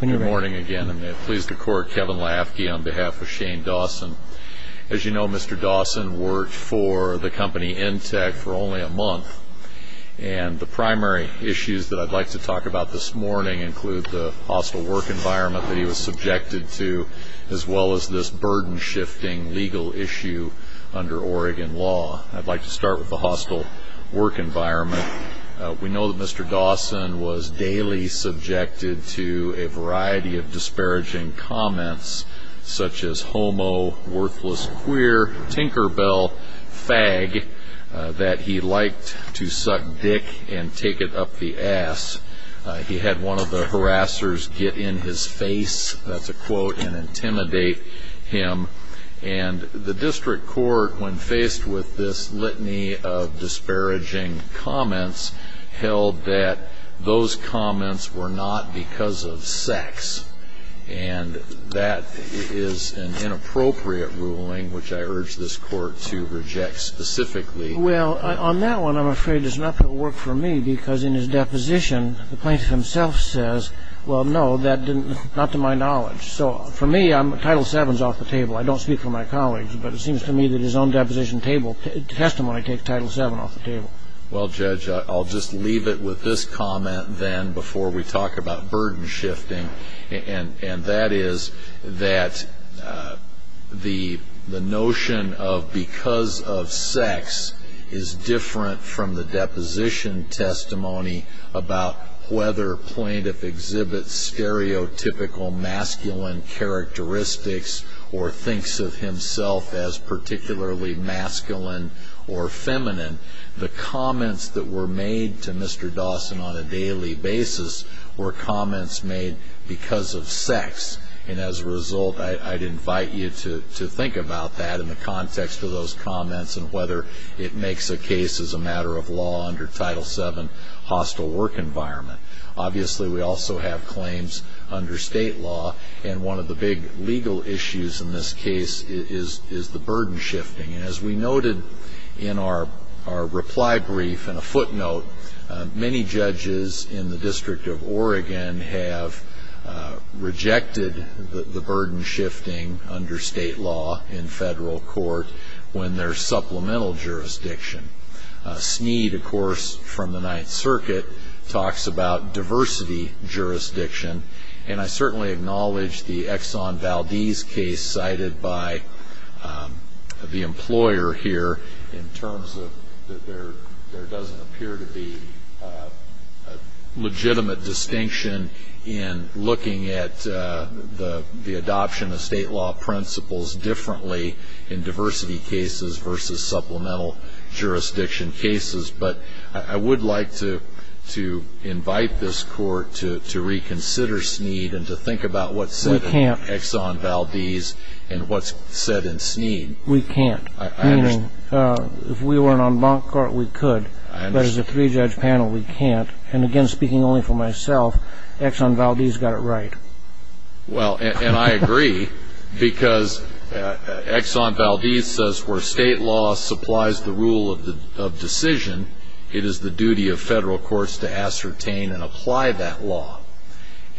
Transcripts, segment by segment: Good morning again, and may it please the Court, Kevin Lafke on behalf of Shane Dawson. As you know, Mr. Dawson worked for the company Entek for only a month, and the primary issues that I'd like to talk about this morning include the hostile work environment that he was subjected to, as well as this burden-shifting legal issue under Oregon law. I'd like to start with the hostile work environment. We know that Mr. Dawson was daily subjected to a variety of disparaging comments, such as homo, worthless queer, tinkerbell, fag, that he liked to suck dick and take it up the ass. He had one of the harassers get in his face, that's a quote, and intimidate him. And the district court, when faced with this litany of disparaging comments, held that those comments were not because of sex. And that is an inappropriate ruling, which I urge this Court to reject specifically. Well, on that one, I'm afraid there's nothing that will work for me, because in his deposition, the plaintiff himself says, well, no, that didn't, not to my knowledge. So for me, Title VII is off the table. I don't speak for my colleagues, but it seems to me that his own deposition testimony takes Title VII off the table. Well, Judge, I'll just leave it with this comment, then, before we talk about burden-shifting, and that is that the notion of because of sex is different from the deposition testimony about whether a plaintiff exhibits stereotypical masculine characteristics or thinks of himself as particularly masculine or feminine. The comments that were made to Mr. Dawson on a daily basis were comments made because of sex. And as a result, I'd invite you to think about that in the context of those comments and whether it makes a case as a matter of law under Title VII hostile work environment. Obviously, we also have claims under state law, and one of the big legal issues in this case is the burden-shifting. And as we noted in our reply brief and a footnote, many judges in the District of Oregon have rejected the burden-shifting under state law in federal court when there's supplemental jurisdiction. Sneed, of course, from the Ninth Circuit talks about diversity jurisdiction, and I certainly acknowledge the Exxon Valdez case cited by the employer here in terms of that there doesn't appear to be a legitimate distinction in looking at the adoption of state law principles differently in diversity cases versus supplemental jurisdiction cases. But I would like to invite this Court to reconsider Sneed and to think about what's said in Exxon Valdez and what's said in Sneed. We can't. Meaning, if we weren't on bond court, we could. But as a three-judge panel, we can't. And again, speaking only for myself, Exxon Valdez got it right. Well, and I agree because Exxon Valdez says where state law supplies the rule of decision, it is the duty of federal courts to ascertain and apply that law.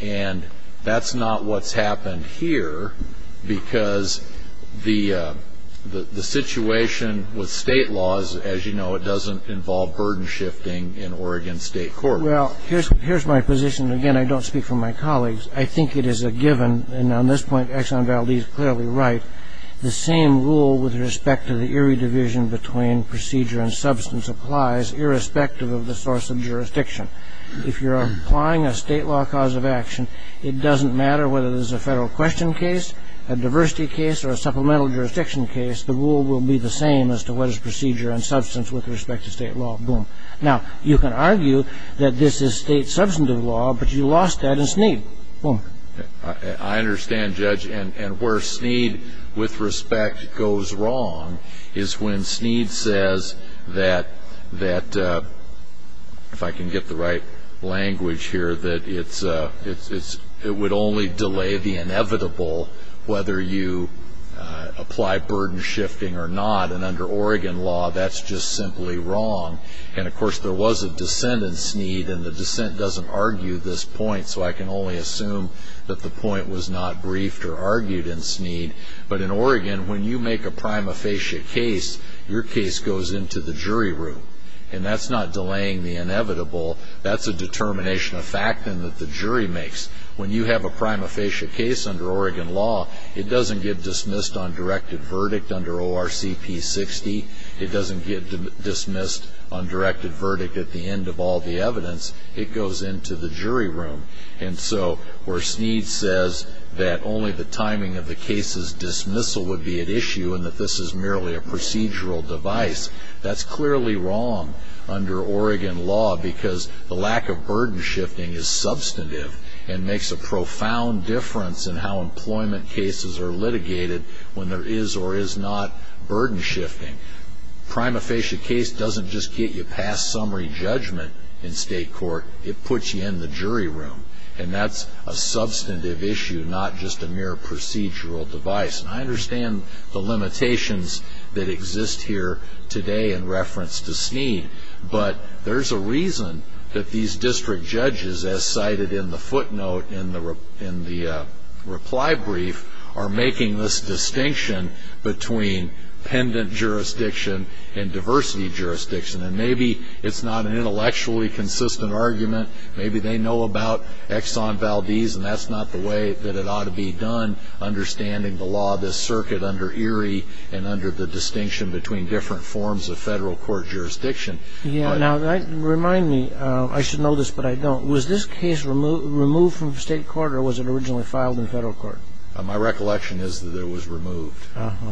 And that's not what's happened here because the situation with state laws, as you know, it doesn't involve burden shifting in Oregon State Courts. Well, here's my position. Again, I don't speak for my colleagues. I think it is a given, and on this point Exxon Valdez is clearly right, the same rule with respect to the eerie division between procedure and substance applies irrespective of the source of jurisdiction. If you're applying a state law cause of action, it doesn't matter whether there's a federal question case, a diversity case, or a supplemental jurisdiction case, the rule will be the same as to what is procedure and substance with respect to state law. Boom. Now, you can argue that this is state substantive law, but you lost that in Sneed. Boom. I understand, Judge. And where Sneed, with respect, goes wrong is when Sneed says that, if I can get the right language here, that it would only delay the inevitable whether you apply burden shifting or not. And under Oregon law, that's just simply wrong. And, of course, there was a dissent in Sneed, and the dissent doesn't argue this point, so I can only assume that the point was not briefed or argued in Sneed. But in Oregon, when you make a prima facie case, your case goes into the jury room, and that's not delaying the inevitable. That's a determination of fact that the jury makes. When you have a prima facie case under Oregon law, it doesn't get dismissed on directed verdict under ORCP 60. It doesn't get dismissed on directed verdict at the end of all the evidence. It goes into the jury room. And so where Sneed says that only the timing of the case's dismissal would be at issue and that this is merely a procedural device, that's clearly wrong under Oregon law because the lack of burden shifting is substantive and makes a profound difference in how employment cases are litigated when there is or is not burden shifting. Prima facie case doesn't just get you past summary judgment in state court. It puts you in the jury room. And that's a substantive issue, not just a mere procedural device. But there's a reason that these district judges, as cited in the footnote in the reply brief, are making this distinction between pendant jurisdiction and diversity jurisdiction. And maybe it's not an intellectually consistent argument. Maybe they know about Exxon Valdez, and that's not the way that it ought to be done understanding the law of this circuit under Erie and under the distinction between different forms of federal court jurisdiction. Yeah. Now, remind me. I should know this, but I don't. Was this case removed from state court or was it originally filed in federal court? My recollection is that it was removed. Uh-huh.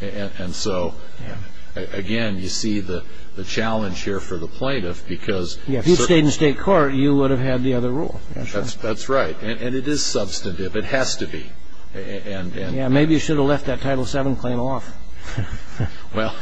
And so, again, you see the challenge here for the plaintiff because... Yeah, if you stayed in state court, you would have had the other rule. That's right. And it is substantive. It has to be. Yeah, maybe you should have left that Title VII claim off. Well,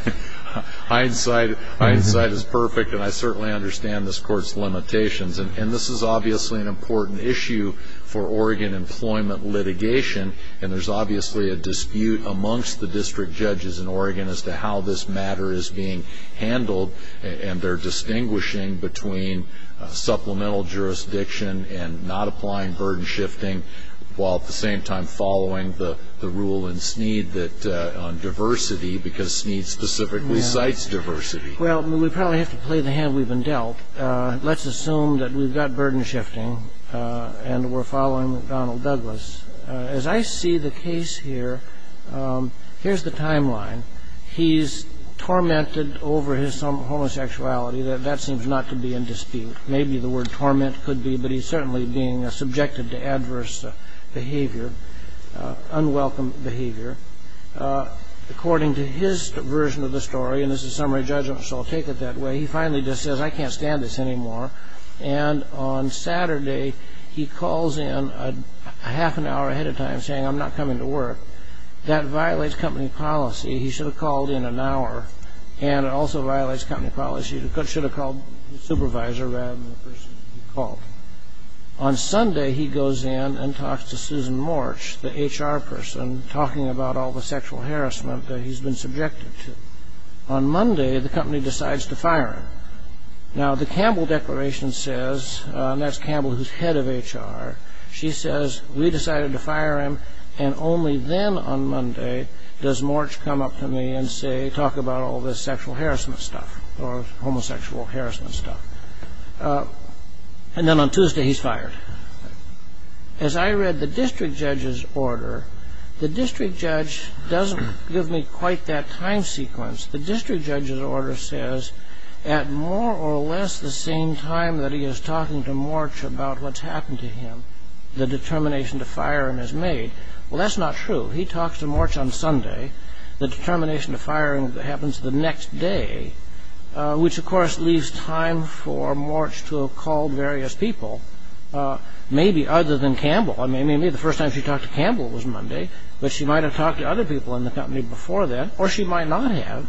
hindsight is perfect, and I certainly understand this court's limitations. And this is obviously an important issue for Oregon employment litigation, and there's obviously a dispute amongst the district judges in Oregon as to how this matter is being handled, and they're distinguishing between supplemental jurisdiction and not applying burden shifting while at the same time following the rule in Sneed on diversity because Sneed specifically cites diversity. Well, we probably have to play the hand we've been dealt. Let's assume that we've got burden shifting and we're following Donald Douglas. As I see the case here, here's the timeline. He's tormented over his homosexuality. That seems not to be in dispute. Maybe the word torment could be, but he's certainly being subjected to adverse behavior, unwelcome behavior. According to his version of the story, and this is summary judgment, so I'll take it that way, he finally just says, I can't stand this anymore, and on Saturday he calls in a half an hour ahead of time saying, I'm not coming to work. That violates company policy. He should have called in an hour, and it also violates company policy. He should have called the supervisor rather than the person he called. On Sunday, he goes in and talks to Susan Morch, the HR person, talking about all the sexual harassment that he's been subjected to. On Monday, the company decides to fire him. Now, the Campbell declaration says, and that's Campbell who's head of HR, she says, we decided to fire him, and only then on Monday does Morch come up to me and talk about all this sexual harassment stuff or homosexual harassment stuff. And then on Tuesday, he's fired. As I read the district judge's order, the district judge doesn't give me quite that time sequence. The district judge's order says at more or less the same time that he is talking to Morch about what's happened to him, the determination to fire him is made. Well, that's not true. He talks to Morch on Sunday. The determination to fire him happens the next day, which, of course, leaves time for Morch to have called various people, maybe other than Campbell. I mean, maybe the first time she talked to Campbell was Monday, but she might have talked to other people in the company before then, or she might not have.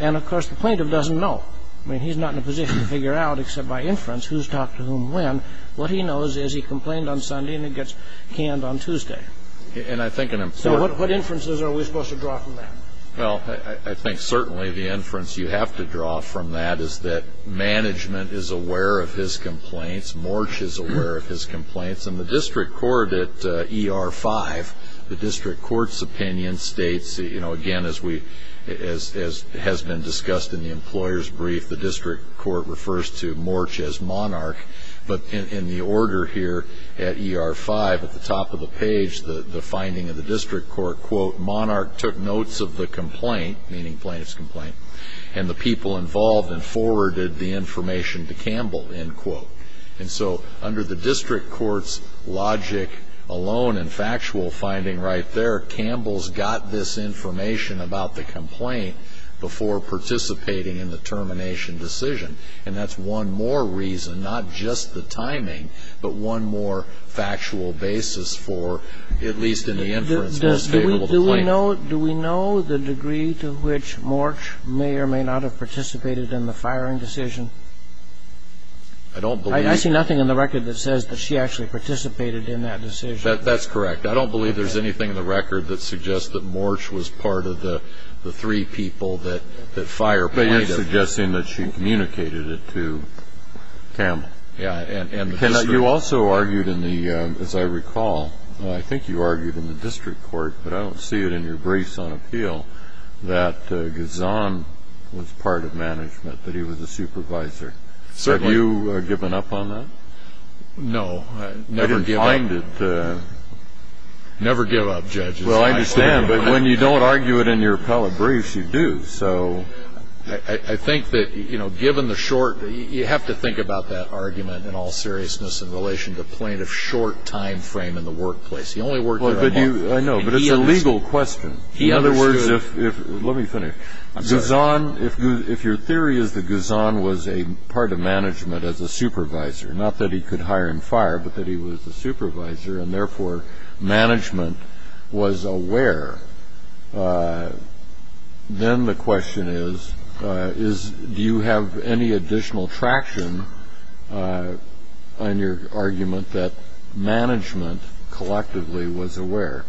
And, of course, the plaintiff doesn't know. I mean, he's not in a position to figure out except by inference who's talked to whom when. What he knows is he complained on Sunday, and it gets canned on Tuesday. So what inferences are we supposed to draw from that? Well, I think certainly the inference you have to draw from that is that management is aware of his complaints. Morch is aware of his complaints. And the district court at ER-5, the district court's opinion states, again, as has been discussed in the employer's brief, the district court refers to Morch as monarch. But in the order here at ER-5, at the top of the page, the finding of the district court, quote, monarch took notes of the complaint, meaning plaintiff's complaint, and the people involved and forwarded the information to Campbell, end quote. And so under the district court's logic alone and factual finding right there, Campbell's got this information about the complaint before participating in the termination decision. And that's one more reason, not just the timing, but one more factual basis for, at least in the inference, who's capable of the complaint. Do we know the degree to which Morch may or may not have participated in the firing decision? I don't believe. I see nothing in the record that says that she actually participated in that decision. That's correct. I don't believe there's anything in the record that suggests that Morch was part of the three people that fired plaintiff. But you're suggesting that she communicated it to Campbell. Yeah. You also argued in the, as I recall, I think you argued in the district court, but I don't see it in your briefs on appeal, that Gazan was part of management, that he was a supervisor. Certainly. Have you given up on that? No. I didn't find it. Never give up, judges. Well, I understand. But when you don't argue it in your appellate briefs, you do, so. I think that, you know, given the short, you have to think about that argument in all seriousness in relation to plaintiff's short time frame in the workplace. He only worked there a month. I know, but it's a legal question. In other words, if, let me finish. Gazan, if your theory is that Gazan was a part of management as a supervisor, not that he could hire and fire, but that he was a supervisor, and, therefore, management was aware, then the question is, do you have any additional traction on your argument that management collectively was aware?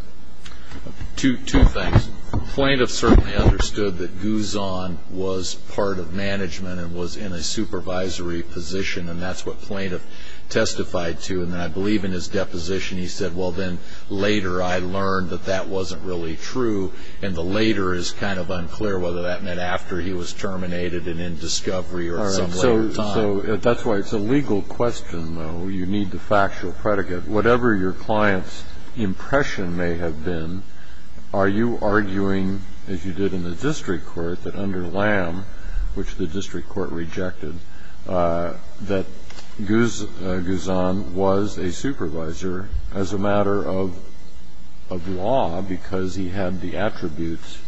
Two things. Plaintiff certainly understood that Gazan was part of management and was in a supervisory position, and that's what plaintiff testified to. And I believe in his deposition he said, well, then later I learned that that wasn't really true, and the later is kind of unclear whether that meant after he was terminated and in discovery or some later time. All right. So that's why it's a legal question, though. You need the factual predicate. Whatever your client's impression may have been, are you arguing, as you did in the district court, that under Lamb, which the district court rejected, that Gazan was a supervisor as a matter of law because he had the attributes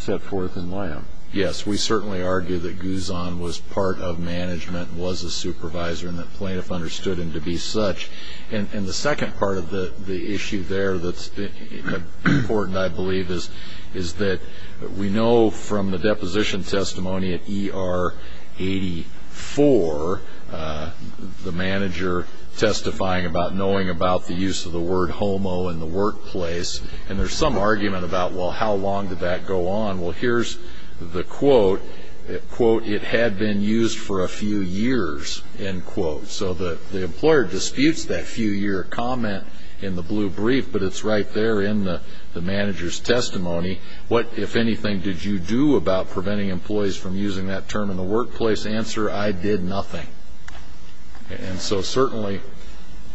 set forth in Lamb? Yes, we certainly argue that Gazan was part of management and was a supervisor and that plaintiff understood him to be such. And the second part of the issue there that's important, I believe, is that we know from the deposition testimony at ER 84, the manager testifying about knowing about the use of the word homo in the workplace, and there's some argument about, well, how long did that go on? Well, here's the quote. Quote, it had been used for a few years, end quote. So the employer disputes that few-year comment in the blue brief, but it's right there in the manager's testimony. What, if anything, did you do about preventing employees from using that term in the workplace? Answer, I did nothing. And so certainly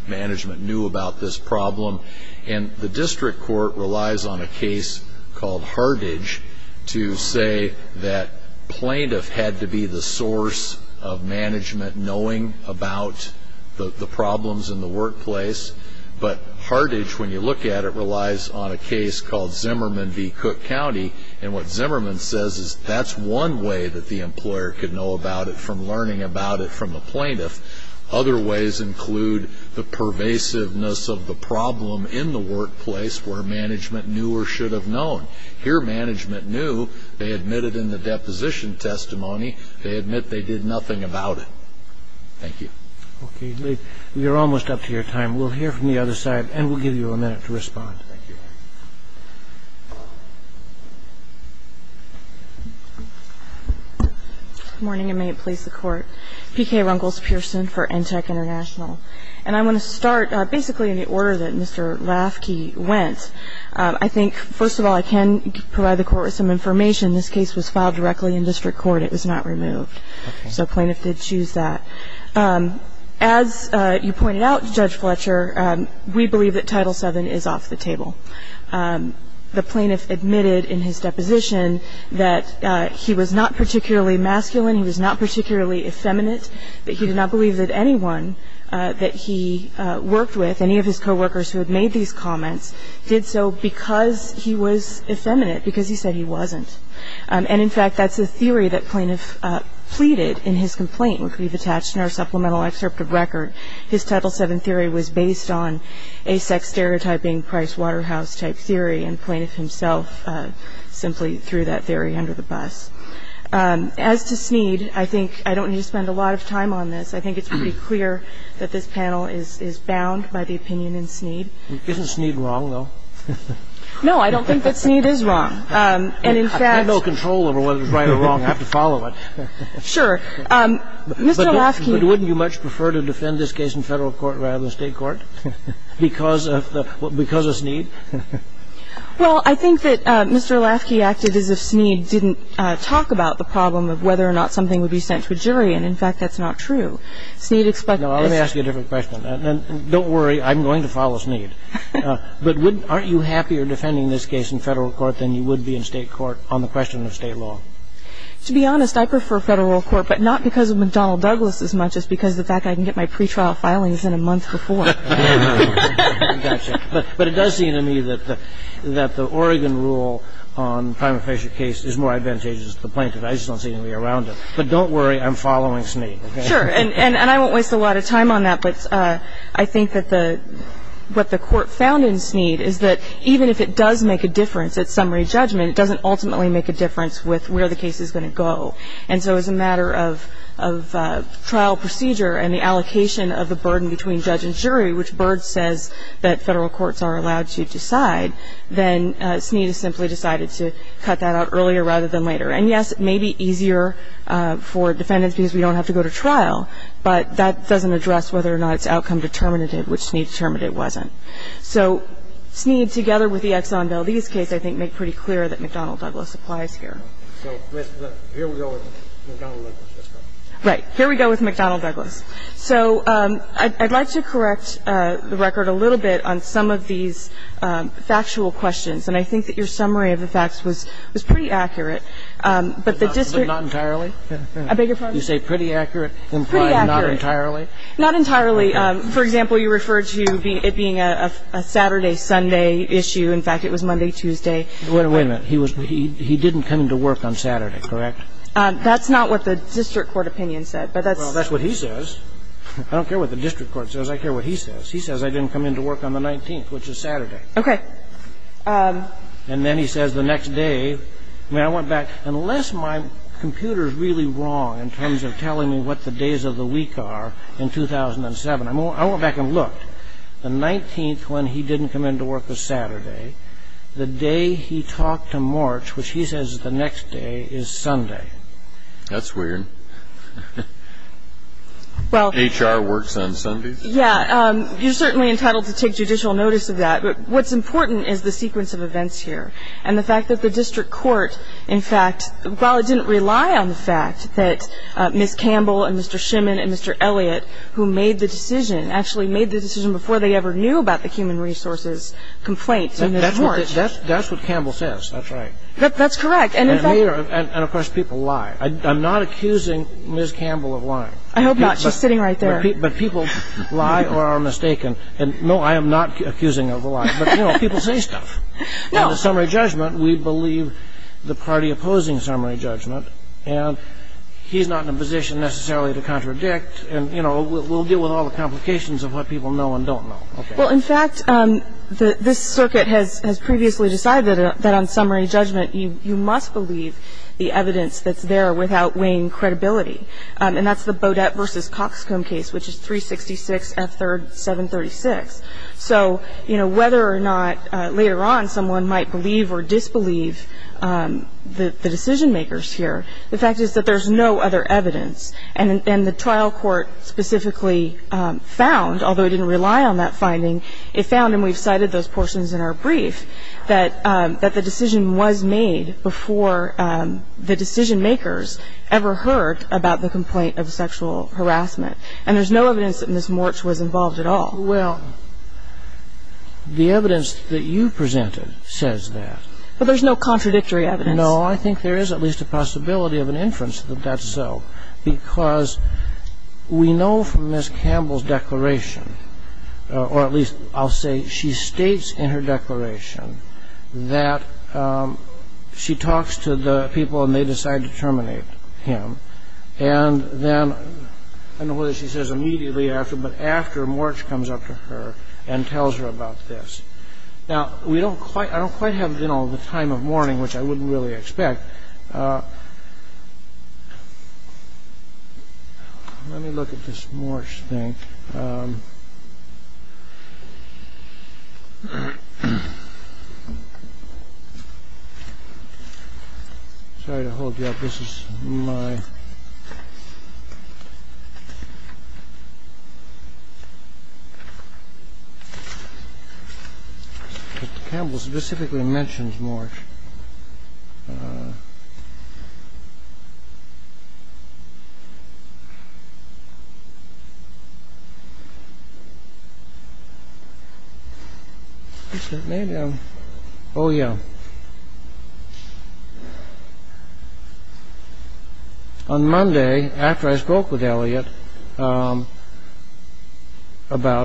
management knew about this problem. And the district court relies on a case called Hartage to say that plaintiff had to be the source of management knowing about the problems in the workplace. But Hartage, when you look at it, relies on a case called Zimmerman v. Cook County, and what Zimmerman says is that's one way that the employer could know about it from learning about it from the plaintiff. Other ways include the pervasiveness of the problem in the workplace where management knew or should have known. Here management knew. They admitted in the deposition testimony. They admit they did nothing about it. Thank you. Okay. You're almost up to your time. We'll hear from the other side, and we'll give you a minute to respond. Thank you. Good morning, and may it please the Court. P.K. Rungles-Pearson for ENTEC International. And I want to start basically in the order that Mr. Rafke went. I think, first of all, I can provide the Court with some information. This case was filed directly in district court. It was not removed. Okay. So plaintiff did choose that. As you pointed out, Judge Fletcher, we believe that Title VII is off the table. The plaintiff admitted in his deposition that he was not particularly masculine, he was not particularly effeminate, that he did not believe that anyone that he worked with, any of his coworkers who had made these comments, did so because he was effeminate, because he said he wasn't. And in fact, that's a theory that plaintiff pleaded in his complaint, which we've attached in our supplemental excerpt of record. His Title VII theory was based on a sex-stereotyping, Price-Waterhouse-type theory, and plaintiff himself simply threw that theory under the bus. As to Snead, I think I don't need to spend a lot of time on this. I think it's pretty clear that this panel is bound by the opinion in Snead. Isn't Snead wrong, though? No, I don't think that Snead is wrong. I have no control over whether it's right or wrong. I have to follow it. Mr. Lasky. But wouldn't you much prefer to defend this case in Federal court rather than State court because of Snead? Well, I think that Mr. Lasky acted as if Snead didn't talk about the problem of whether or not something would be sent to a jury, and in fact, that's not true. Snead expects that. No, let me ask you a different question. Don't worry. I'm going to follow Snead. But aren't you happier defending this case in Federal court than you would be in State court on the question of State law? To be honest, I prefer Federal court, but not because of McDonnell Douglas as much as because of the fact I can get my pretrial filings in a month for four. But it does seem to me that the Oregon rule on the Primer-Fisher case is more advantageous to the plaintiff. I just don't see any way around it. But don't worry. I'm following Snead. Sure. And I won't waste a lot of time on that, but I think that what the Court found in Snead is that even if it does make a difference at summary judgment, it doesn't ultimately make a difference with where the case is going to go. And so as a matter of trial procedure and the allocation of the burden between judge and jury, which Byrd says that Federal courts are allowed to decide, then And, yes, it may be easier for defendants because we don't have to go to trial, but that doesn't address whether or not it's outcome determinative, which Snead determined it wasn't. So Snead, together with the Exxon Valdez case, I think, made pretty clear that McDonnell Douglas applies here. So here we go with McDonnell Douglas. Right. Here we go with McDonnell Douglas. So I'd like to correct the record a little bit on some of these factual questions, and I think that your summary of the facts was pretty accurate. But the district Not entirely? I beg your pardon? You say pretty accurate implies not entirely? Pretty accurate. Not entirely. For example, you referred to it being a Saturday-Sunday issue. In fact, it was Monday-Tuesday. Wait a minute. He didn't come into work on Saturday, correct? That's not what the district court opinion said, but that's Well, that's what he says. I don't care what the district court says. I care what he says. He says I didn't come into work on the 19th, which is Saturday. Okay. And then he says the next day. I mean, I went back. Unless my computer is really wrong in terms of telling me what the days of the week are in 2007, I went back and looked. The 19th when he didn't come into work was Saturday. The day he talked to March, which he says the next day, is Sunday. That's weird. HR works on Sundays? Yeah. You're certainly entitled to take judicial notice of that. But what's important is the sequence of events here and the fact that the district court, in fact, while it didn't rely on the fact that Ms. Campbell and Mr. Shimin and Mr. Elliot, who made the decision, actually made the decision before they ever knew about the human resources complaint, That's what Campbell says. That's right. That's correct. And, of course, people lie. I'm not accusing Ms. Campbell of lying. I hope not. She's sitting right there. But people lie or are mistaken. And, no, I am not accusing her of lying. But, you know, people say stuff. In the summary judgment, we believe the party opposing summary judgment. And he's not in a position necessarily to contradict. And, you know, we'll deal with all the complications of what people know and don't know. Well, in fact, this circuit has previously decided that on summary judgment, you must believe the evidence that's there without weighing credibility. And that's the Bodette v. Coxcomb case, which is 366 F. 3rd, 736. So, you know, whether or not later on someone might believe or disbelieve the decision-makers here, the fact is that there's no other evidence. And the trial court specifically found, although it didn't rely on that finding, it found, and we've cited those portions in our brief, that the decision was made before the decision-makers ever heard about the complaint of sexual harassment. And there's no evidence that Ms. Morch was involved at all. Well, the evidence that you presented says that. But there's no contradictory evidence. No, I think there is at least a possibility of an inference that that's so. Because we know from Ms. Campbell's declaration, or at least I'll say she states in her declaration, that she talks to the people and they decide to terminate him. And then, I don't know whether she says immediately after, but after Morch comes up to her and tells her about this. Now, I don't quite have the time of morning, which I wouldn't really expect. Let me look at this Morch thing. Sorry to hold you up. This is my... Ms. Campbell specifically mentions Morch. Oh yeah. On Monday, after I spoke with Elliot about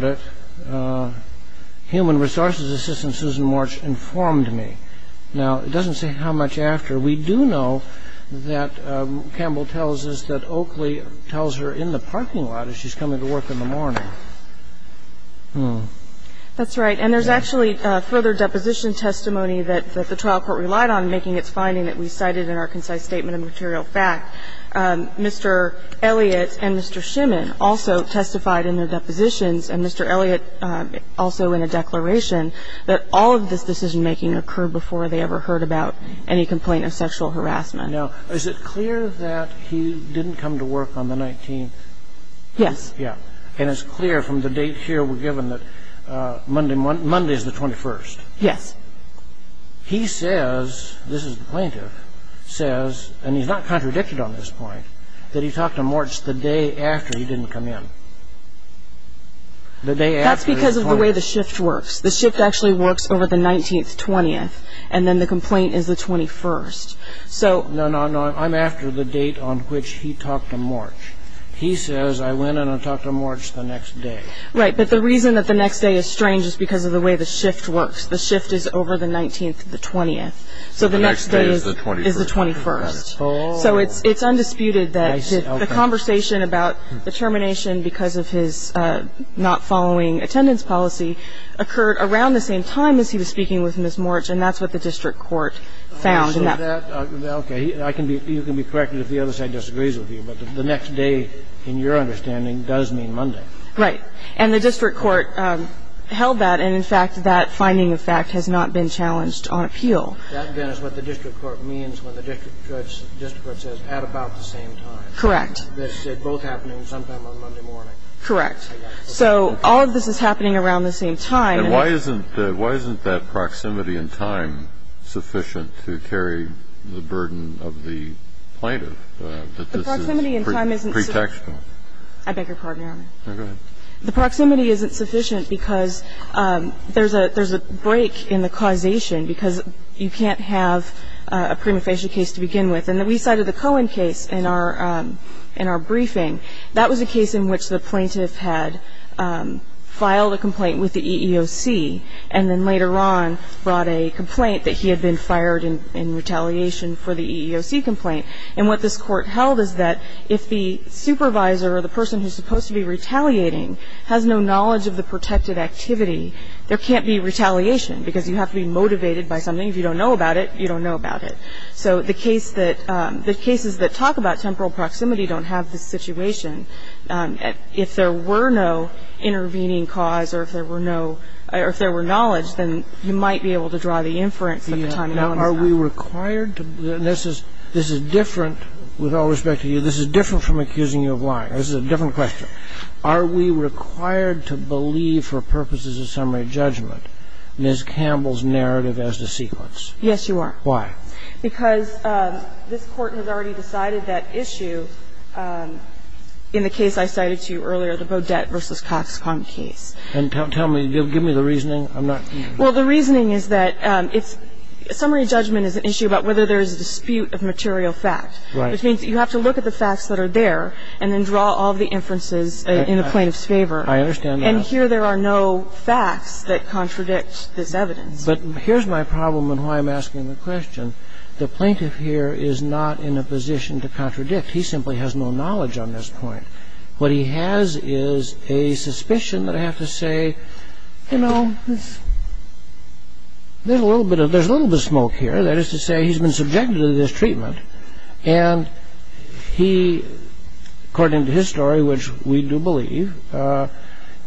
it, human resources assistant Susan Morch informed me. Now, it doesn't say how much after. We do know that Campbell tells us that Oakley tells her in the parking lot as she's coming to work in the morning. Hmm. That's right. And there's actually further deposition testimony that the trial court relied on, making its finding that we cited in our concise statement of material fact. Mr. Elliot and Mr. Schimann also testified in their depositions, and Mr. Elliot also in a declaration that all of this decision making occurred before they ever heard about any complaint of sexual harassment. Now, is it clear that he didn't come to work on the 19th? Yes. Yeah. And it's clear from the date here we're given that Monday is the 21st. Yes. He says, this is the plaintiff, says, and he's not contradicted on this point, that he talked to Morch the day after he didn't come in. That's because of the way the shift works. The shift actually works over the 19th, 20th, and then the complaint is the 21st. No, no, no, I'm after the date on which he talked to Morch. He says, I went in and talked to Morch the next day. Right, but the reason that the next day is strange is because of the way the shift works. The shift is over the 19th, the 20th. So the next day is the 21st. So it's undisputed that the conversation about the termination because of his not following attendance policy occurred around the same time as he was speaking with Ms. Morch, and that's what the district court found. Okay. You can be corrected if the other side disagrees with you, but the next day in your understanding does mean Monday. Right. And the district court held that, and, in fact, that finding of fact has not been challenged on appeal. That, then, is what the district court means when the district court says at about the same time. Correct. This is both happening sometime on Monday morning. Correct. So all of this is happening around the same time. And why isn't that proximity in time sufficient to carry the burden of the plaintiff? The proximity in time isn't sufficient. The proximity in time isn't sufficient. I beg your pardon, Your Honor. Go ahead. The proximity isn't sufficient because there's a break in the causation, because you can't have a prima facie case to begin with. And we cited the Cohen case in our briefing. That was a case in which the plaintiff had filed a complaint with the EEOC and then later on brought a complaint that he had been fired in retaliation for the EEOC complaint. And what this court held is that if the supervisor or the person who's supposed to be retaliating has no knowledge of the protected activity, there can't be retaliation because you have to be motivated by something. If you don't know about it, you don't know about it. So the case that the cases that talk about temporal proximity don't have this situation, if there were no intervening cause or if there were no or if there were knowledge, then you might be able to draw the inference at the time. Now, are we required to – and this is different – with all respect to you, this is different from accusing you of lying. This is a different question. Are we required to believe for purposes of summary judgment Ms. Campbell's narrative as to sequence? Yes, You are. Why? Because this Court has already decided that issue in the case I cited to you earlier, the Bodette v. Cox-Conk case. And tell me – give me the reasoning. I'm not – Well, the reasoning is that it's – summary judgment is an issue about whether there is a dispute of material fact. Right. Which means you have to look at the facts that are there and then draw all the inferences in the plaintiff's favor. I understand that. And here there are no facts that contradict this evidence. But here's my problem and why I'm asking the question. The plaintiff here is not in a position to contradict. He simply has no knowledge on this point. What he has is a suspicion that I have to say, you know, there's a little bit of – there's a little bit of smoke here. That is to say, he's been subjected to this treatment and he, according to his story, which we do believe,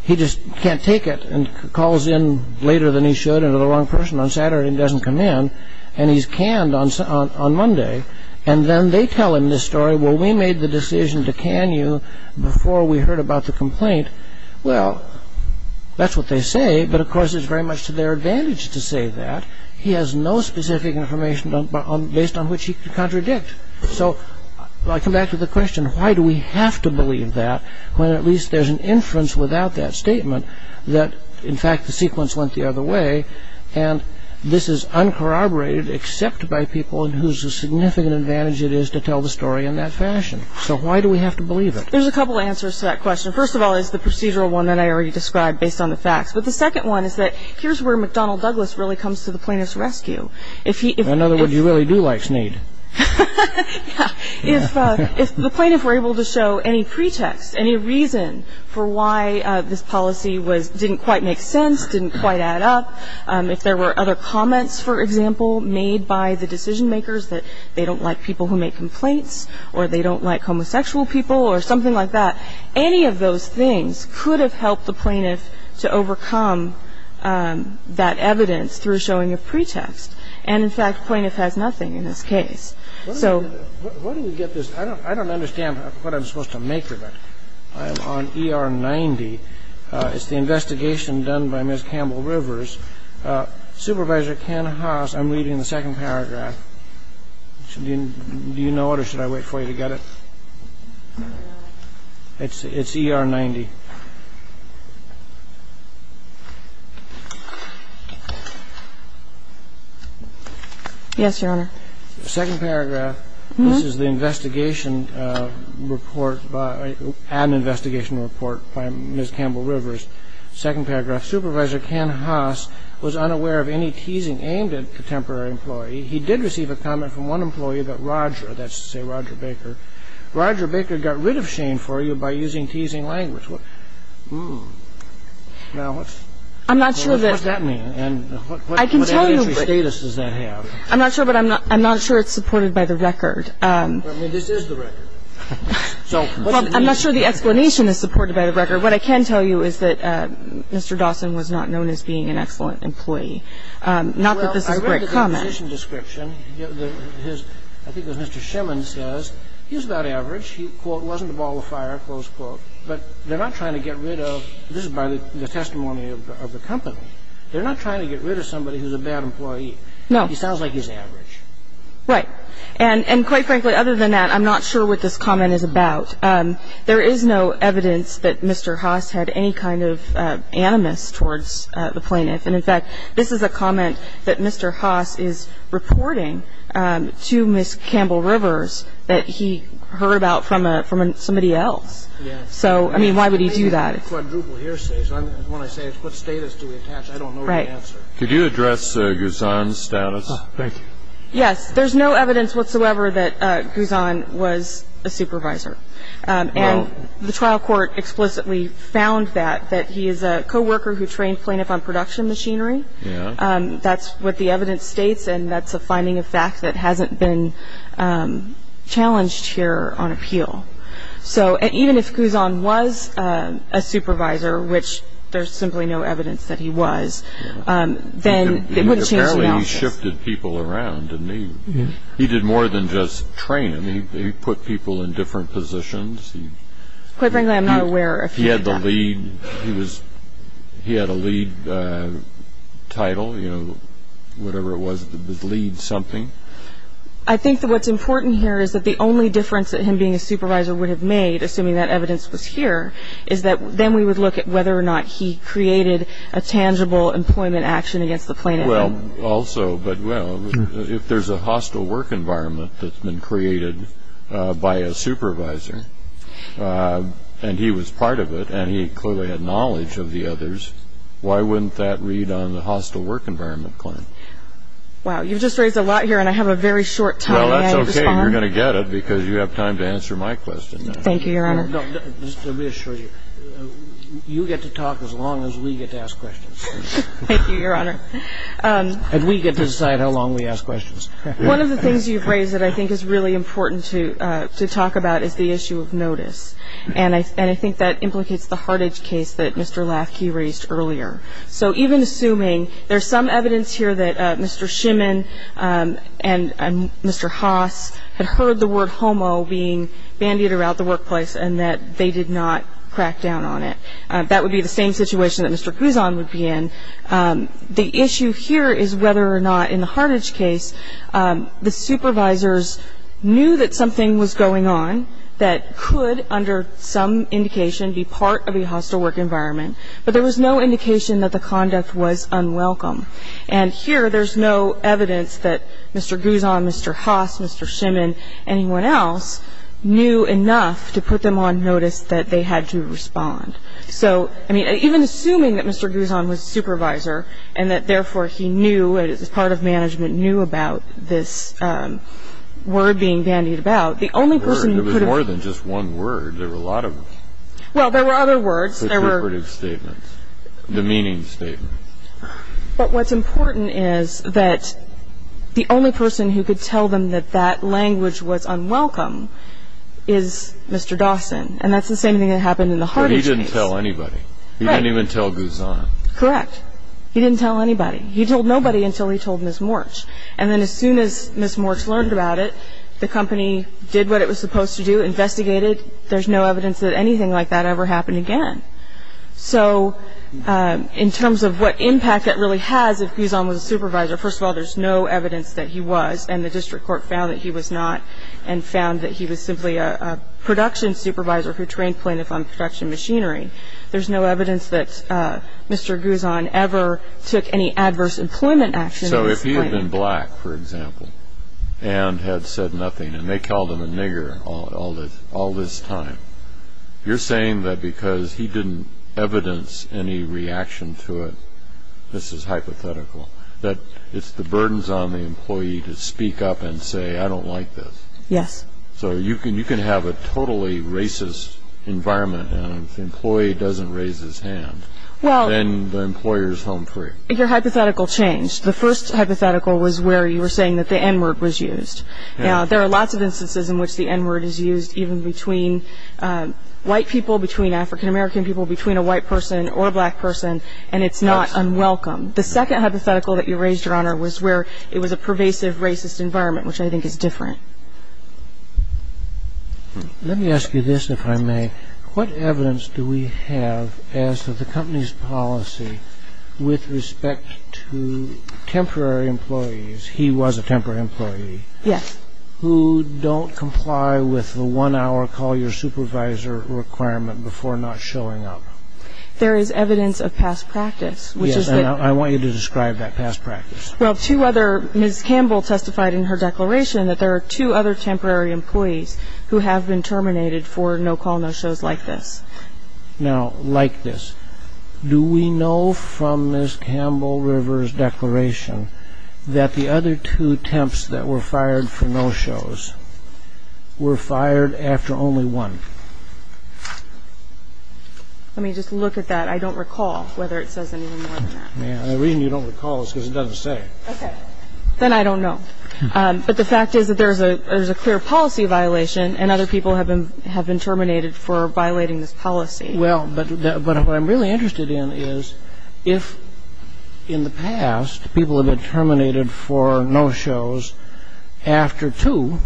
he just can't take it and calls in later than he should and to the wrong person on Saturday and doesn't come in. And he's canned on Monday. And then they tell him this story, well, we made the decision to can you before we heard about the complaint. Well, that's what they say. But, of course, it's very much to their advantage to say that. He has no specific information based on which he can contradict. So I come back to the question, why do we have to believe that when at least there's an inference without that statement that, in fact, the sequence went the other way and this is uncorroborated except by people whose significant advantage it is to tell the story in that fashion. So why do we have to believe it? There's a couple answers to that question. First of all is the procedural one that I already described based on the facts. But the second one is that here's where McDonnell Douglas really comes to the plaintiff's rescue. In other words, you really do like Snead. If the plaintiff were able to show any pretext, any reason for why this policy didn't quite make sense, didn't quite add up, if there were other comments, for example, made by the decision makers that they don't like people who make complaints or they don't like homosexual people or something like that, any of those things could have helped the plaintiff to overcome that evidence through showing a pretext. And, in fact, the plaintiff has nothing in this case. So what do we get this? I don't understand what I'm supposed to make of it. I am on ER 90. It's the investigation done by Ms. Campbell Rivers. Supervisor Ken Haas, I'm reading the second paragraph. Do you know it or should I wait for you to get it? It's ER 90. Yes, Your Honor. The second paragraph, this is the investigation report, an investigation report by Ms. Campbell Rivers. Second paragraph, Supervisor Ken Haas was unaware of any teasing aimed at a contemporary employee. He did receive a comment from one employee about Roger. That's to say Roger Baker. Roger Baker got rid of Shane for you by using teasing language. Now, what does that mean? I'm not sure. I'm not sure it's supported by the record. I mean, this is the record. I'm not sure the explanation is supported by the record. What I can tell you is that Mr. Dawson was not known as being an excellent Not that this is a great comment. Well, I read the position description. I think it was Mr. Shemin says he was about average. He, quote, wasn't the ball of fire, close quote. But they're not trying to get rid of, this is by the testimony of the company, They're not trying to get rid of somebody who's a bad employee. No. He sounds like he's average. Right. And quite frankly, other than that, I'm not sure what this comment is about. There is no evidence that Mr. Haas had any kind of animus towards the plaintiff. And, in fact, this is a comment that Mr. Haas is reporting to Ms. Campbell Rivers that he heard about from somebody else. Yes. So, I mean, why would he do that? When I say what status do we attach, I don't know the answer. Right. Could you address Guzon's status? Thank you. Yes. There's no evidence whatsoever that Guzon was a supervisor. And the trial court explicitly found that, that he is a co-worker who trained plaintiff on production machinery. Yeah. That's what the evidence states, and that's a finding of fact that hasn't been challenged here on appeal. So, even if Guzon was a supervisor, which there's simply no evidence that he was, then it wouldn't change the balance. Apparently, he shifted people around, didn't he? He did more than just train them. He put people in different positions. Quite frankly, I'm not aware if he did that. He had the lead. He had a lead title, you know, whatever it was, the lead something. I think that what's important here is that the only difference that him being a supervisor would have made, assuming that evidence was here, is that then we would look at whether or not he created a tangible employment action against the plaintiff. Well, also, but, well, if there's a hostile work environment that's been created by a supervisor, and he was part of it, and he clearly had knowledge of the others, why wouldn't that read on the hostile work environment claim? Wow, you've just raised a lot here, and I have a very short time. Well, that's okay. You're going to get it because you have time to answer my question. Thank you, Your Honor. Just to reassure you, you get to talk as long as we get to ask questions. Thank you, Your Honor. And we get to decide how long we ask questions. One of the things you've raised that I think is really important to talk about is the issue of notice. And I think that implicates the Hartage case that Mr. Lafke raised earlier. So even assuming there's some evidence here that Mr. Schimann and Mr. Haas had heard the word homo being bandied around the workplace and that they did not crack down on it. That would be the same situation that Mr. Guzon would be in. The issue here is whether or not in the Hartage case the supervisors knew that something was going on that could, under some indication, be part of a hostile work environment, but there was no indication that the conduct was unwelcome. And here there's no evidence that Mr. Guzon, Mr. Haas, Mr. Schimann, anyone else, knew enough to put them on notice that they had to respond. So, I mean, even assuming that Mr. Guzon was a supervisor and that, therefore, he knew, as part of management, knew about this word being bandied about, the only person who could have ---- There was more than just one word. There were a lot of them. Well, there were other words. There were. Contributive statements, demeaning statements. But what's important is that the only person who could tell them that that language was unwelcome is Mr. Dawson, and that's the same thing that happened in the Hartage case. But he didn't tell anybody. Right. He didn't even tell Guzon. Correct. He didn't tell anybody. He told nobody until he told Ms. Morch. And then as soon as Ms. Morch learned about it, the company did what it was supposed to do, investigated. There's no evidence that anything like that ever happened again. So in terms of what impact that really has, if Guzon was a supervisor, first of all, there's no evidence that he was, and the district court found that he was not and found that he was simply a production supervisor who trained plaintiffs on production machinery. There's no evidence that Mr. Guzon ever took any adverse employment actions. So if he had been black, for example, and had said nothing, and they called him a nigger, all this time, you're saying that because he didn't evidence any reaction to it, this is hypothetical, that it's the burdens on the employee to speak up and say, I don't like this. Yes. So you can have a totally racist environment, and if the employee doesn't raise his hand, then the employer is home free. Your hypothetical changed. The first hypothetical was where you were saying that the N-word was used. There are lots of instances in which the N-word is used, even between white people, between African-American people, between a white person or a black person, and it's not unwelcome. The second hypothetical that you raised, Your Honor, was where it was a pervasive racist environment, which I think is different. Let me ask you this, if I may. What evidence do we have as to the company's policy with respect to temporary employees? He was a temporary employee. Yes. Who don't comply with the one-hour call your supervisor requirement before not showing up. There is evidence of past practice. Yes, and I want you to describe that past practice. Well, two other, Ms. Campbell testified in her declaration that there are two other temporary employees who have been terminated for no-call, no-shows like this. Now, like this, do we know from Ms. Campbell-River's declaration that the other two attempts that were fired for no-shows were fired after only one? Let me just look at that. I don't recall whether it says anything more than that. The reason you don't recall is because it doesn't say. Okay. Then I don't know. But the fact is that there is a clear policy violation and other people have been terminated for violating this policy. Well, but what I'm really interested in is if, in the past, people have been terminated for no-shows after two,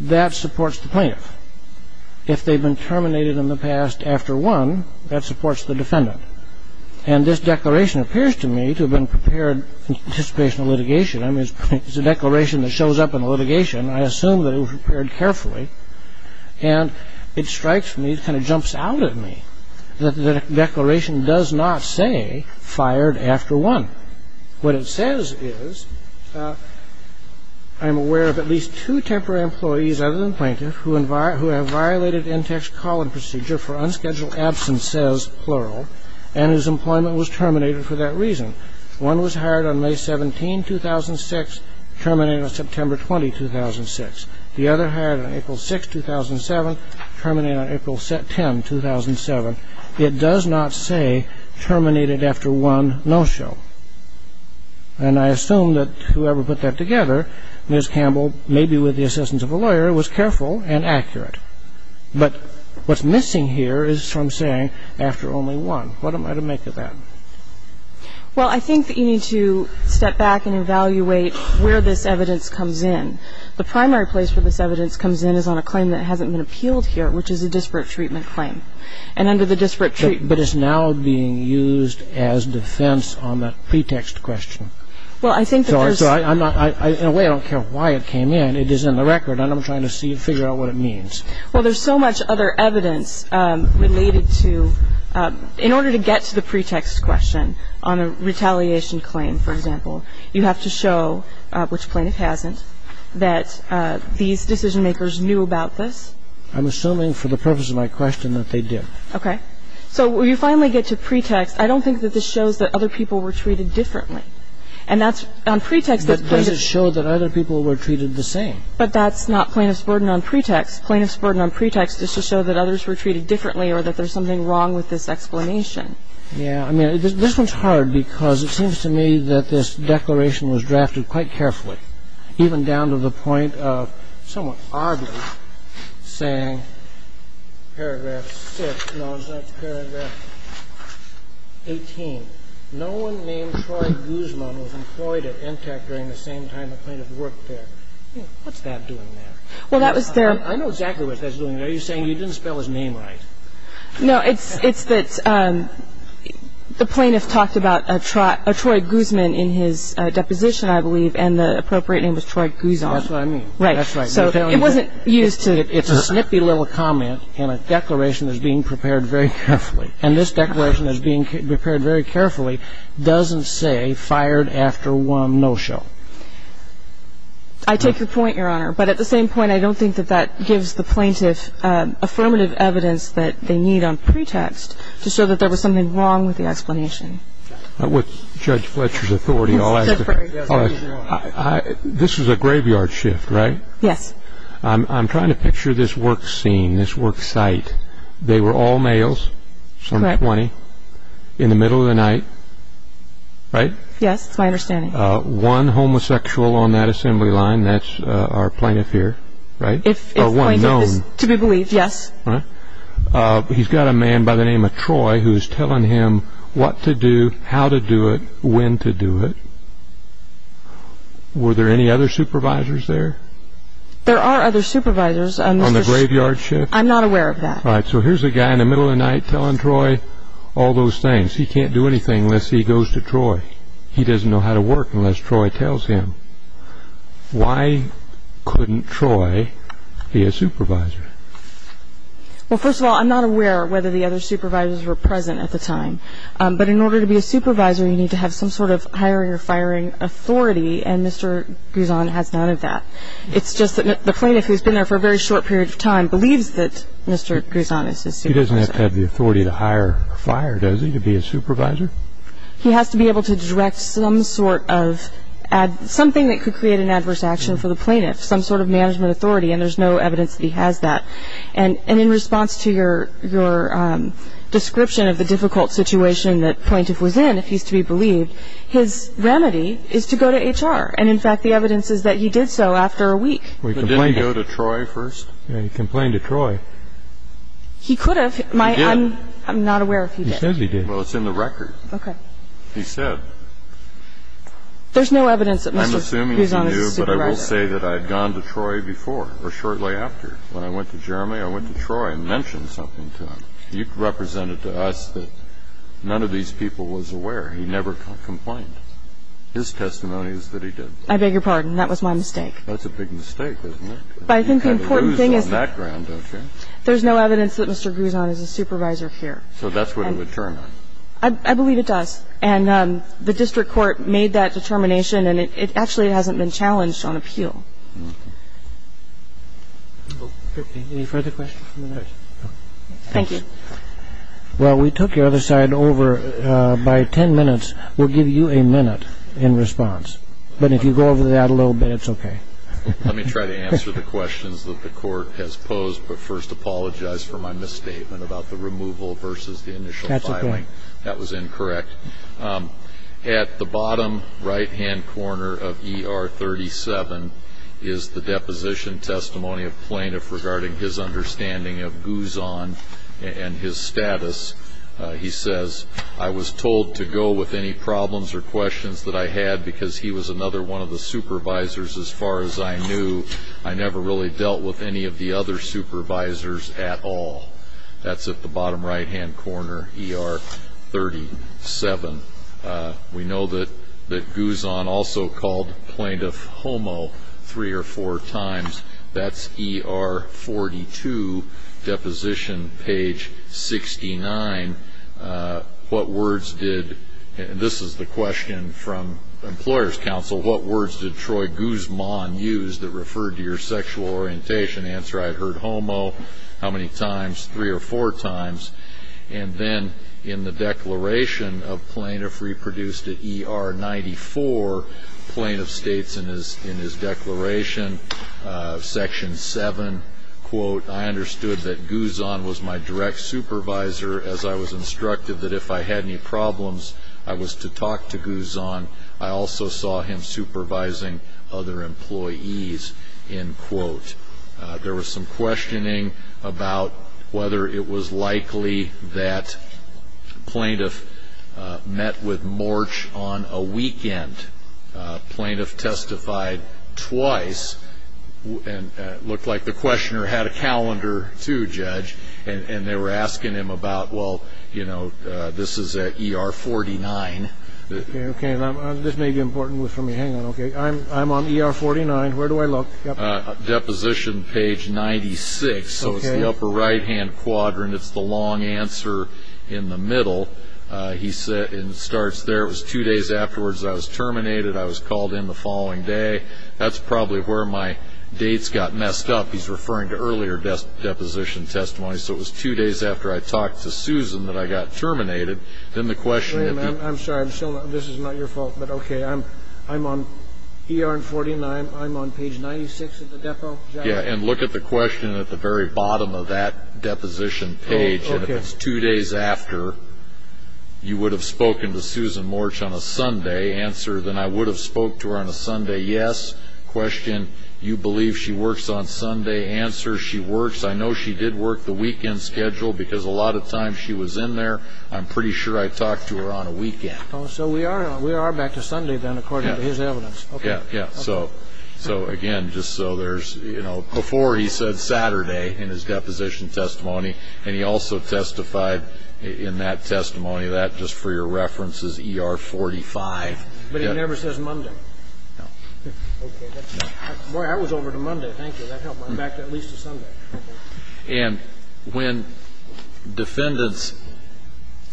that supports the plaintiff. If they've been terminated in the past after one, that supports the defendant. And this declaration appears to me to have been prepared in anticipation of litigation. I mean, it's a declaration that shows up in litigation. I assume that it was prepared carefully. And it strikes me, it kind of jumps out at me that the declaration does not say fired after one. What it says is, I'm aware of at least two temporary employees other than plaintiff who have violated in-text call-in procedure for unscheduled absence, says, plural, and whose employment was terminated for that reason. One was hired on May 17, 2006, terminated on September 20, 2006. The other hired on April 6, 2007, terminated on April 10, 2007. It does not say terminated after one no-show. And I assume that whoever put that together, Ms. Campbell, maybe with the assistance of a lawyer, was careful and accurate. But what's missing here is from saying after only one. What am I to make of that? Well, I think that you need to step back and evaluate where this evidence comes in. The primary place where this evidence comes in is on a claim that hasn't been appealed here, which is a disparate treatment claim. And under the disparate treatment claim... But it's now being used as defense on that pretext question. Well, I think that there's... In a way, I don't care why it came in. It is in the record, and I'm trying to figure out what it means. Well, there's so much other evidence related to... In order to get to the pretext question on a retaliation claim, for example, you have to show, which plaintiff hasn't, that these decision-makers knew about this. I'm assuming for the purpose of my question that they did. Okay. So when you finally get to pretext, I don't think that this shows that other people were treated differently. And that's on pretext... But does it show that other people were treated the same? But that's not plaintiff's burden on pretext. Plaintiff's burden on pretext is to show that others were treated differently or that there's something wrong with this explanation. Yeah. I mean, this one's hard because it seems to me that this declaration was drafted quite carefully, even down to the point of somewhat oddly saying paragraph 6. No, it's not paragraph 18. No one named Troy Guzman was employed at NTAC during the same time the plaintiff worked there. What's that doing there? Well, that was their... I know exactly what that's doing there. You're saying you didn't spell his name right. No. It's that the plaintiff talked about a Troy Guzman in his deposition, I believe, and the appropriate name was Troy Guzon. That's what I mean. Right. So it wasn't used to... It's a snippy little comment in a declaration that's being prepared very carefully. And this declaration that's being prepared very carefully doesn't say fired after one no-show. I take your point, Your Honor. But at the same point, I don't think that that gives the plaintiff affirmative evidence that they need on pretext to show that there was something wrong with the explanation. With Judge Fletcher's authority, I'll ask a question. This was a graveyard shift, right? Yes. I'm trying to picture this work scene, this work site. They were all males, some 20, in the middle of the night, right? Yes, that's my understanding. One homosexual on that assembly line, that's our plaintiff here, right? If the plaintiff is to be believed, yes. All right. He's got a man by the name of Troy who's telling him what to do, how to do it, when to do it. Were there any other supervisors there? There are other supervisors. On the graveyard shift? I'm not aware of that. All right. So here's a guy in the middle of the night telling Troy all those things. He can't do anything unless he goes to Troy. He doesn't know how to work unless Troy tells him. Why couldn't Troy be a supervisor? Well, first of all, I'm not aware whether the other supervisors were present at the time. But in order to be a supervisor, you need to have some sort of hiring or firing authority, and Mr. Grison has none of that. It's just that the plaintiff, who's been there for a very short period of time, believes that Mr. Grison is his supervisor. He doesn't have to have the authority to hire or fire, does he, to be a supervisor? He has to be able to direct some sort of something that could create an adverse action for the plaintiff, some sort of management authority, and there's no evidence that he has that. And in response to your description of the difficult situation that the plaintiff was in, if he's to be believed, his remedy is to go to HR. And, in fact, the evidence is that he did so after a week. But didn't he go to Troy first? He complained to Troy. He could have. He did. I'm not aware if he did. He said he did. Well, it's in the record. Okay. He said. There's no evidence that Mr. Grison is a supervisor. I'm assuming he knew, but I will say that I had gone to Troy before or shortly after. When I went to Germany, I went to Troy and mentioned something to him. You've represented to us that none of these people was aware. He never complained. His testimony is that he did. I beg your pardon. That was my mistake. That's a big mistake, isn't it? But I think the important thing is that you have the news on that ground, don't you? There's no evidence that Mr. Grison is a supervisor here. So that's what it would turn on. I believe it does. And the district court made that determination, and it actually hasn't been challenged on appeal. Okay. Any further questions? Thank you. Well, we took the other side over. By 10 minutes, we'll give you a minute in response. But if you go over that a little bit, it's okay. Let me try to answer the questions that the court has posed, but first apologize for my misstatement about the removal versus the initial filing. That's okay. That was incorrect. At the bottom right-hand corner of ER 37 is the deposition testimony of plaintiff regarding his understanding of Guzon and his status. He says, I was told to go with any problems or questions that I had because he was another one of the supervisors as far as I knew. I never really dealt with any of the other supervisors at all. That's at the bottom right-hand corner, ER 37. We know that Guzon also called plaintiff homo three or four times. That's ER 42, deposition page 69. This is the question from employers' counsel. What words did Troy Guzman use that referred to your sexual orientation? Answer, I had heard homo how many times, three or four times. And then in the declaration of plaintiff reproduced at ER 94, plaintiff states in his declaration, section 7, I understood that Guzon was my direct supervisor as I was instructed that if I had any problems, I was to talk to Guzon. I also saw him supervising other employees. There was some questioning about whether it was likely that plaintiff met with Morch on a weekend. Plaintiff testified twice. It looked like the questioner had a calendar, too, Judge. And they were asking him about, well, this is at ER 49. This may be important for me. Hang on. I'm on ER 49. Where do I look? Deposition page 96. It's the upper right-hand quadrant. It's the long answer in the middle. It starts there. It was two days afterwards I was terminated. I was called in the following day. That's probably where my dates got messed up. He's referring to earlier deposition testimony. So it was two days after I talked to Susan that I got terminated. Then the question had been ---- I'm sorry. This is not your fault. But okay. I'm on ER 49. I'm on page 96 of the depo. Yeah. And look at the question at the very bottom of that deposition page. If it's two days after, you would have spoken to Susan Morch on a Sunday. Answer, then I would have spoke to her on a Sunday, yes. Question, you believe she works on Sunday. Answer, she works. I know she did work the weekend schedule because a lot of times she was in there. I'm pretty sure I talked to her on a weekend. So we are back to Sunday, then, according to his evidence. Yeah. So, again, just so there's ---- Before he said Saturday in his deposition testimony. And he also testified in that testimony. That, just for your reference, is ER 45. But he never says Monday. No. Okay. Boy, I was over to Monday. Thank you. That helped. I'm back at least to Sunday. And when defendants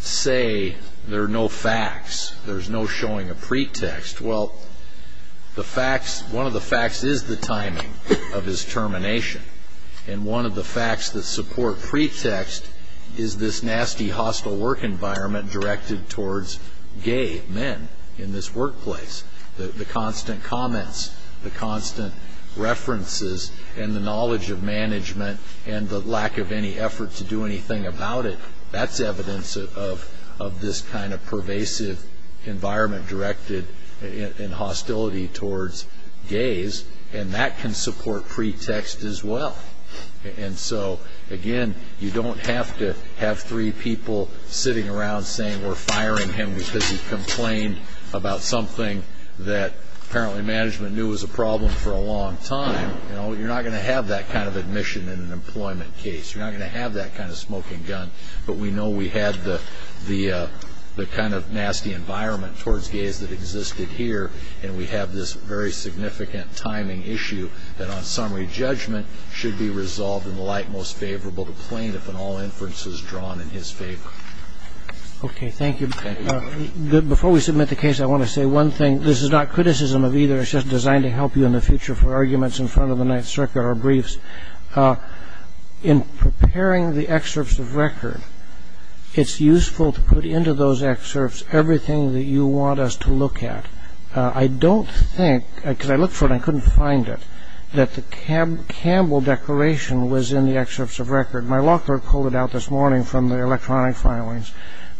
say there are no facts, there's no showing a pretext, well, the facts ---- one of the facts is the timing of his termination. And one of the facts that support pretext is this nasty, hostile work environment directed towards gay men in this workplace. The constant comments, the constant references, and the knowledge of management and the lack of any effort to do anything about it, that's evidence of this kind of pervasive environment directed in hostility towards gays. And that can support pretext as well. And so, again, you don't have to have three people sitting around saying we're firing him because he complained about something that, apparently, management knew was a problem for a long time. You're not going to have that kind of admission in an employment case. You're not going to have that kind of smoking gun. But we know we had the kind of nasty environment towards gays that existed here, and we have this very significant timing issue that on summary judgment should be resolved in the light most favorable to plaintiff in all inferences drawn in his favor. Okay. Thank you. Before we submit the case, I want to say one thing. This is not criticism of either. It's just designed to help you in the future for arguments in front of the Ninth Circuit or briefs. In preparing the excerpts of record, it's useful to put into those excerpts everything that you want us to look at. I don't think, because I looked for it and I couldn't find it, that the Campbell Declaration was in the excerpts of record. My locker pulled it out this morning from the electronic filings.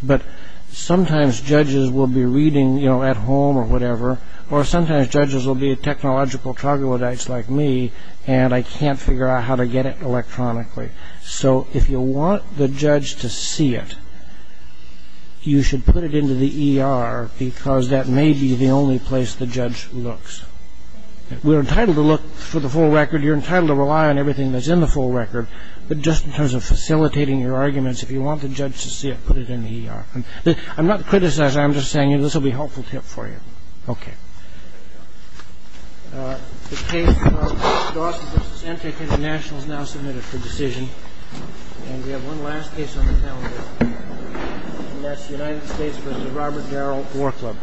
But sometimes judges will be reading at home or whatever, or sometimes judges will be technological troglodytes like me, and I can't figure out how to get it electronically. So if you want the judge to see it, you should put it into the ER because that may be the only place the judge looks. We're entitled to look for the full record. You're entitled to rely on everything that's in the full record. But just in terms of facilitating your arguments, if you want the judge to see it, put it in the ER. I'm not criticizing. I'm just saying this will be a helpful tip for you. Okay. The case of Dawson v. Entik International is now submitted for decision. And we have one last case on the calendar, and that's United States v. Robert Darrell War Club. Thank you.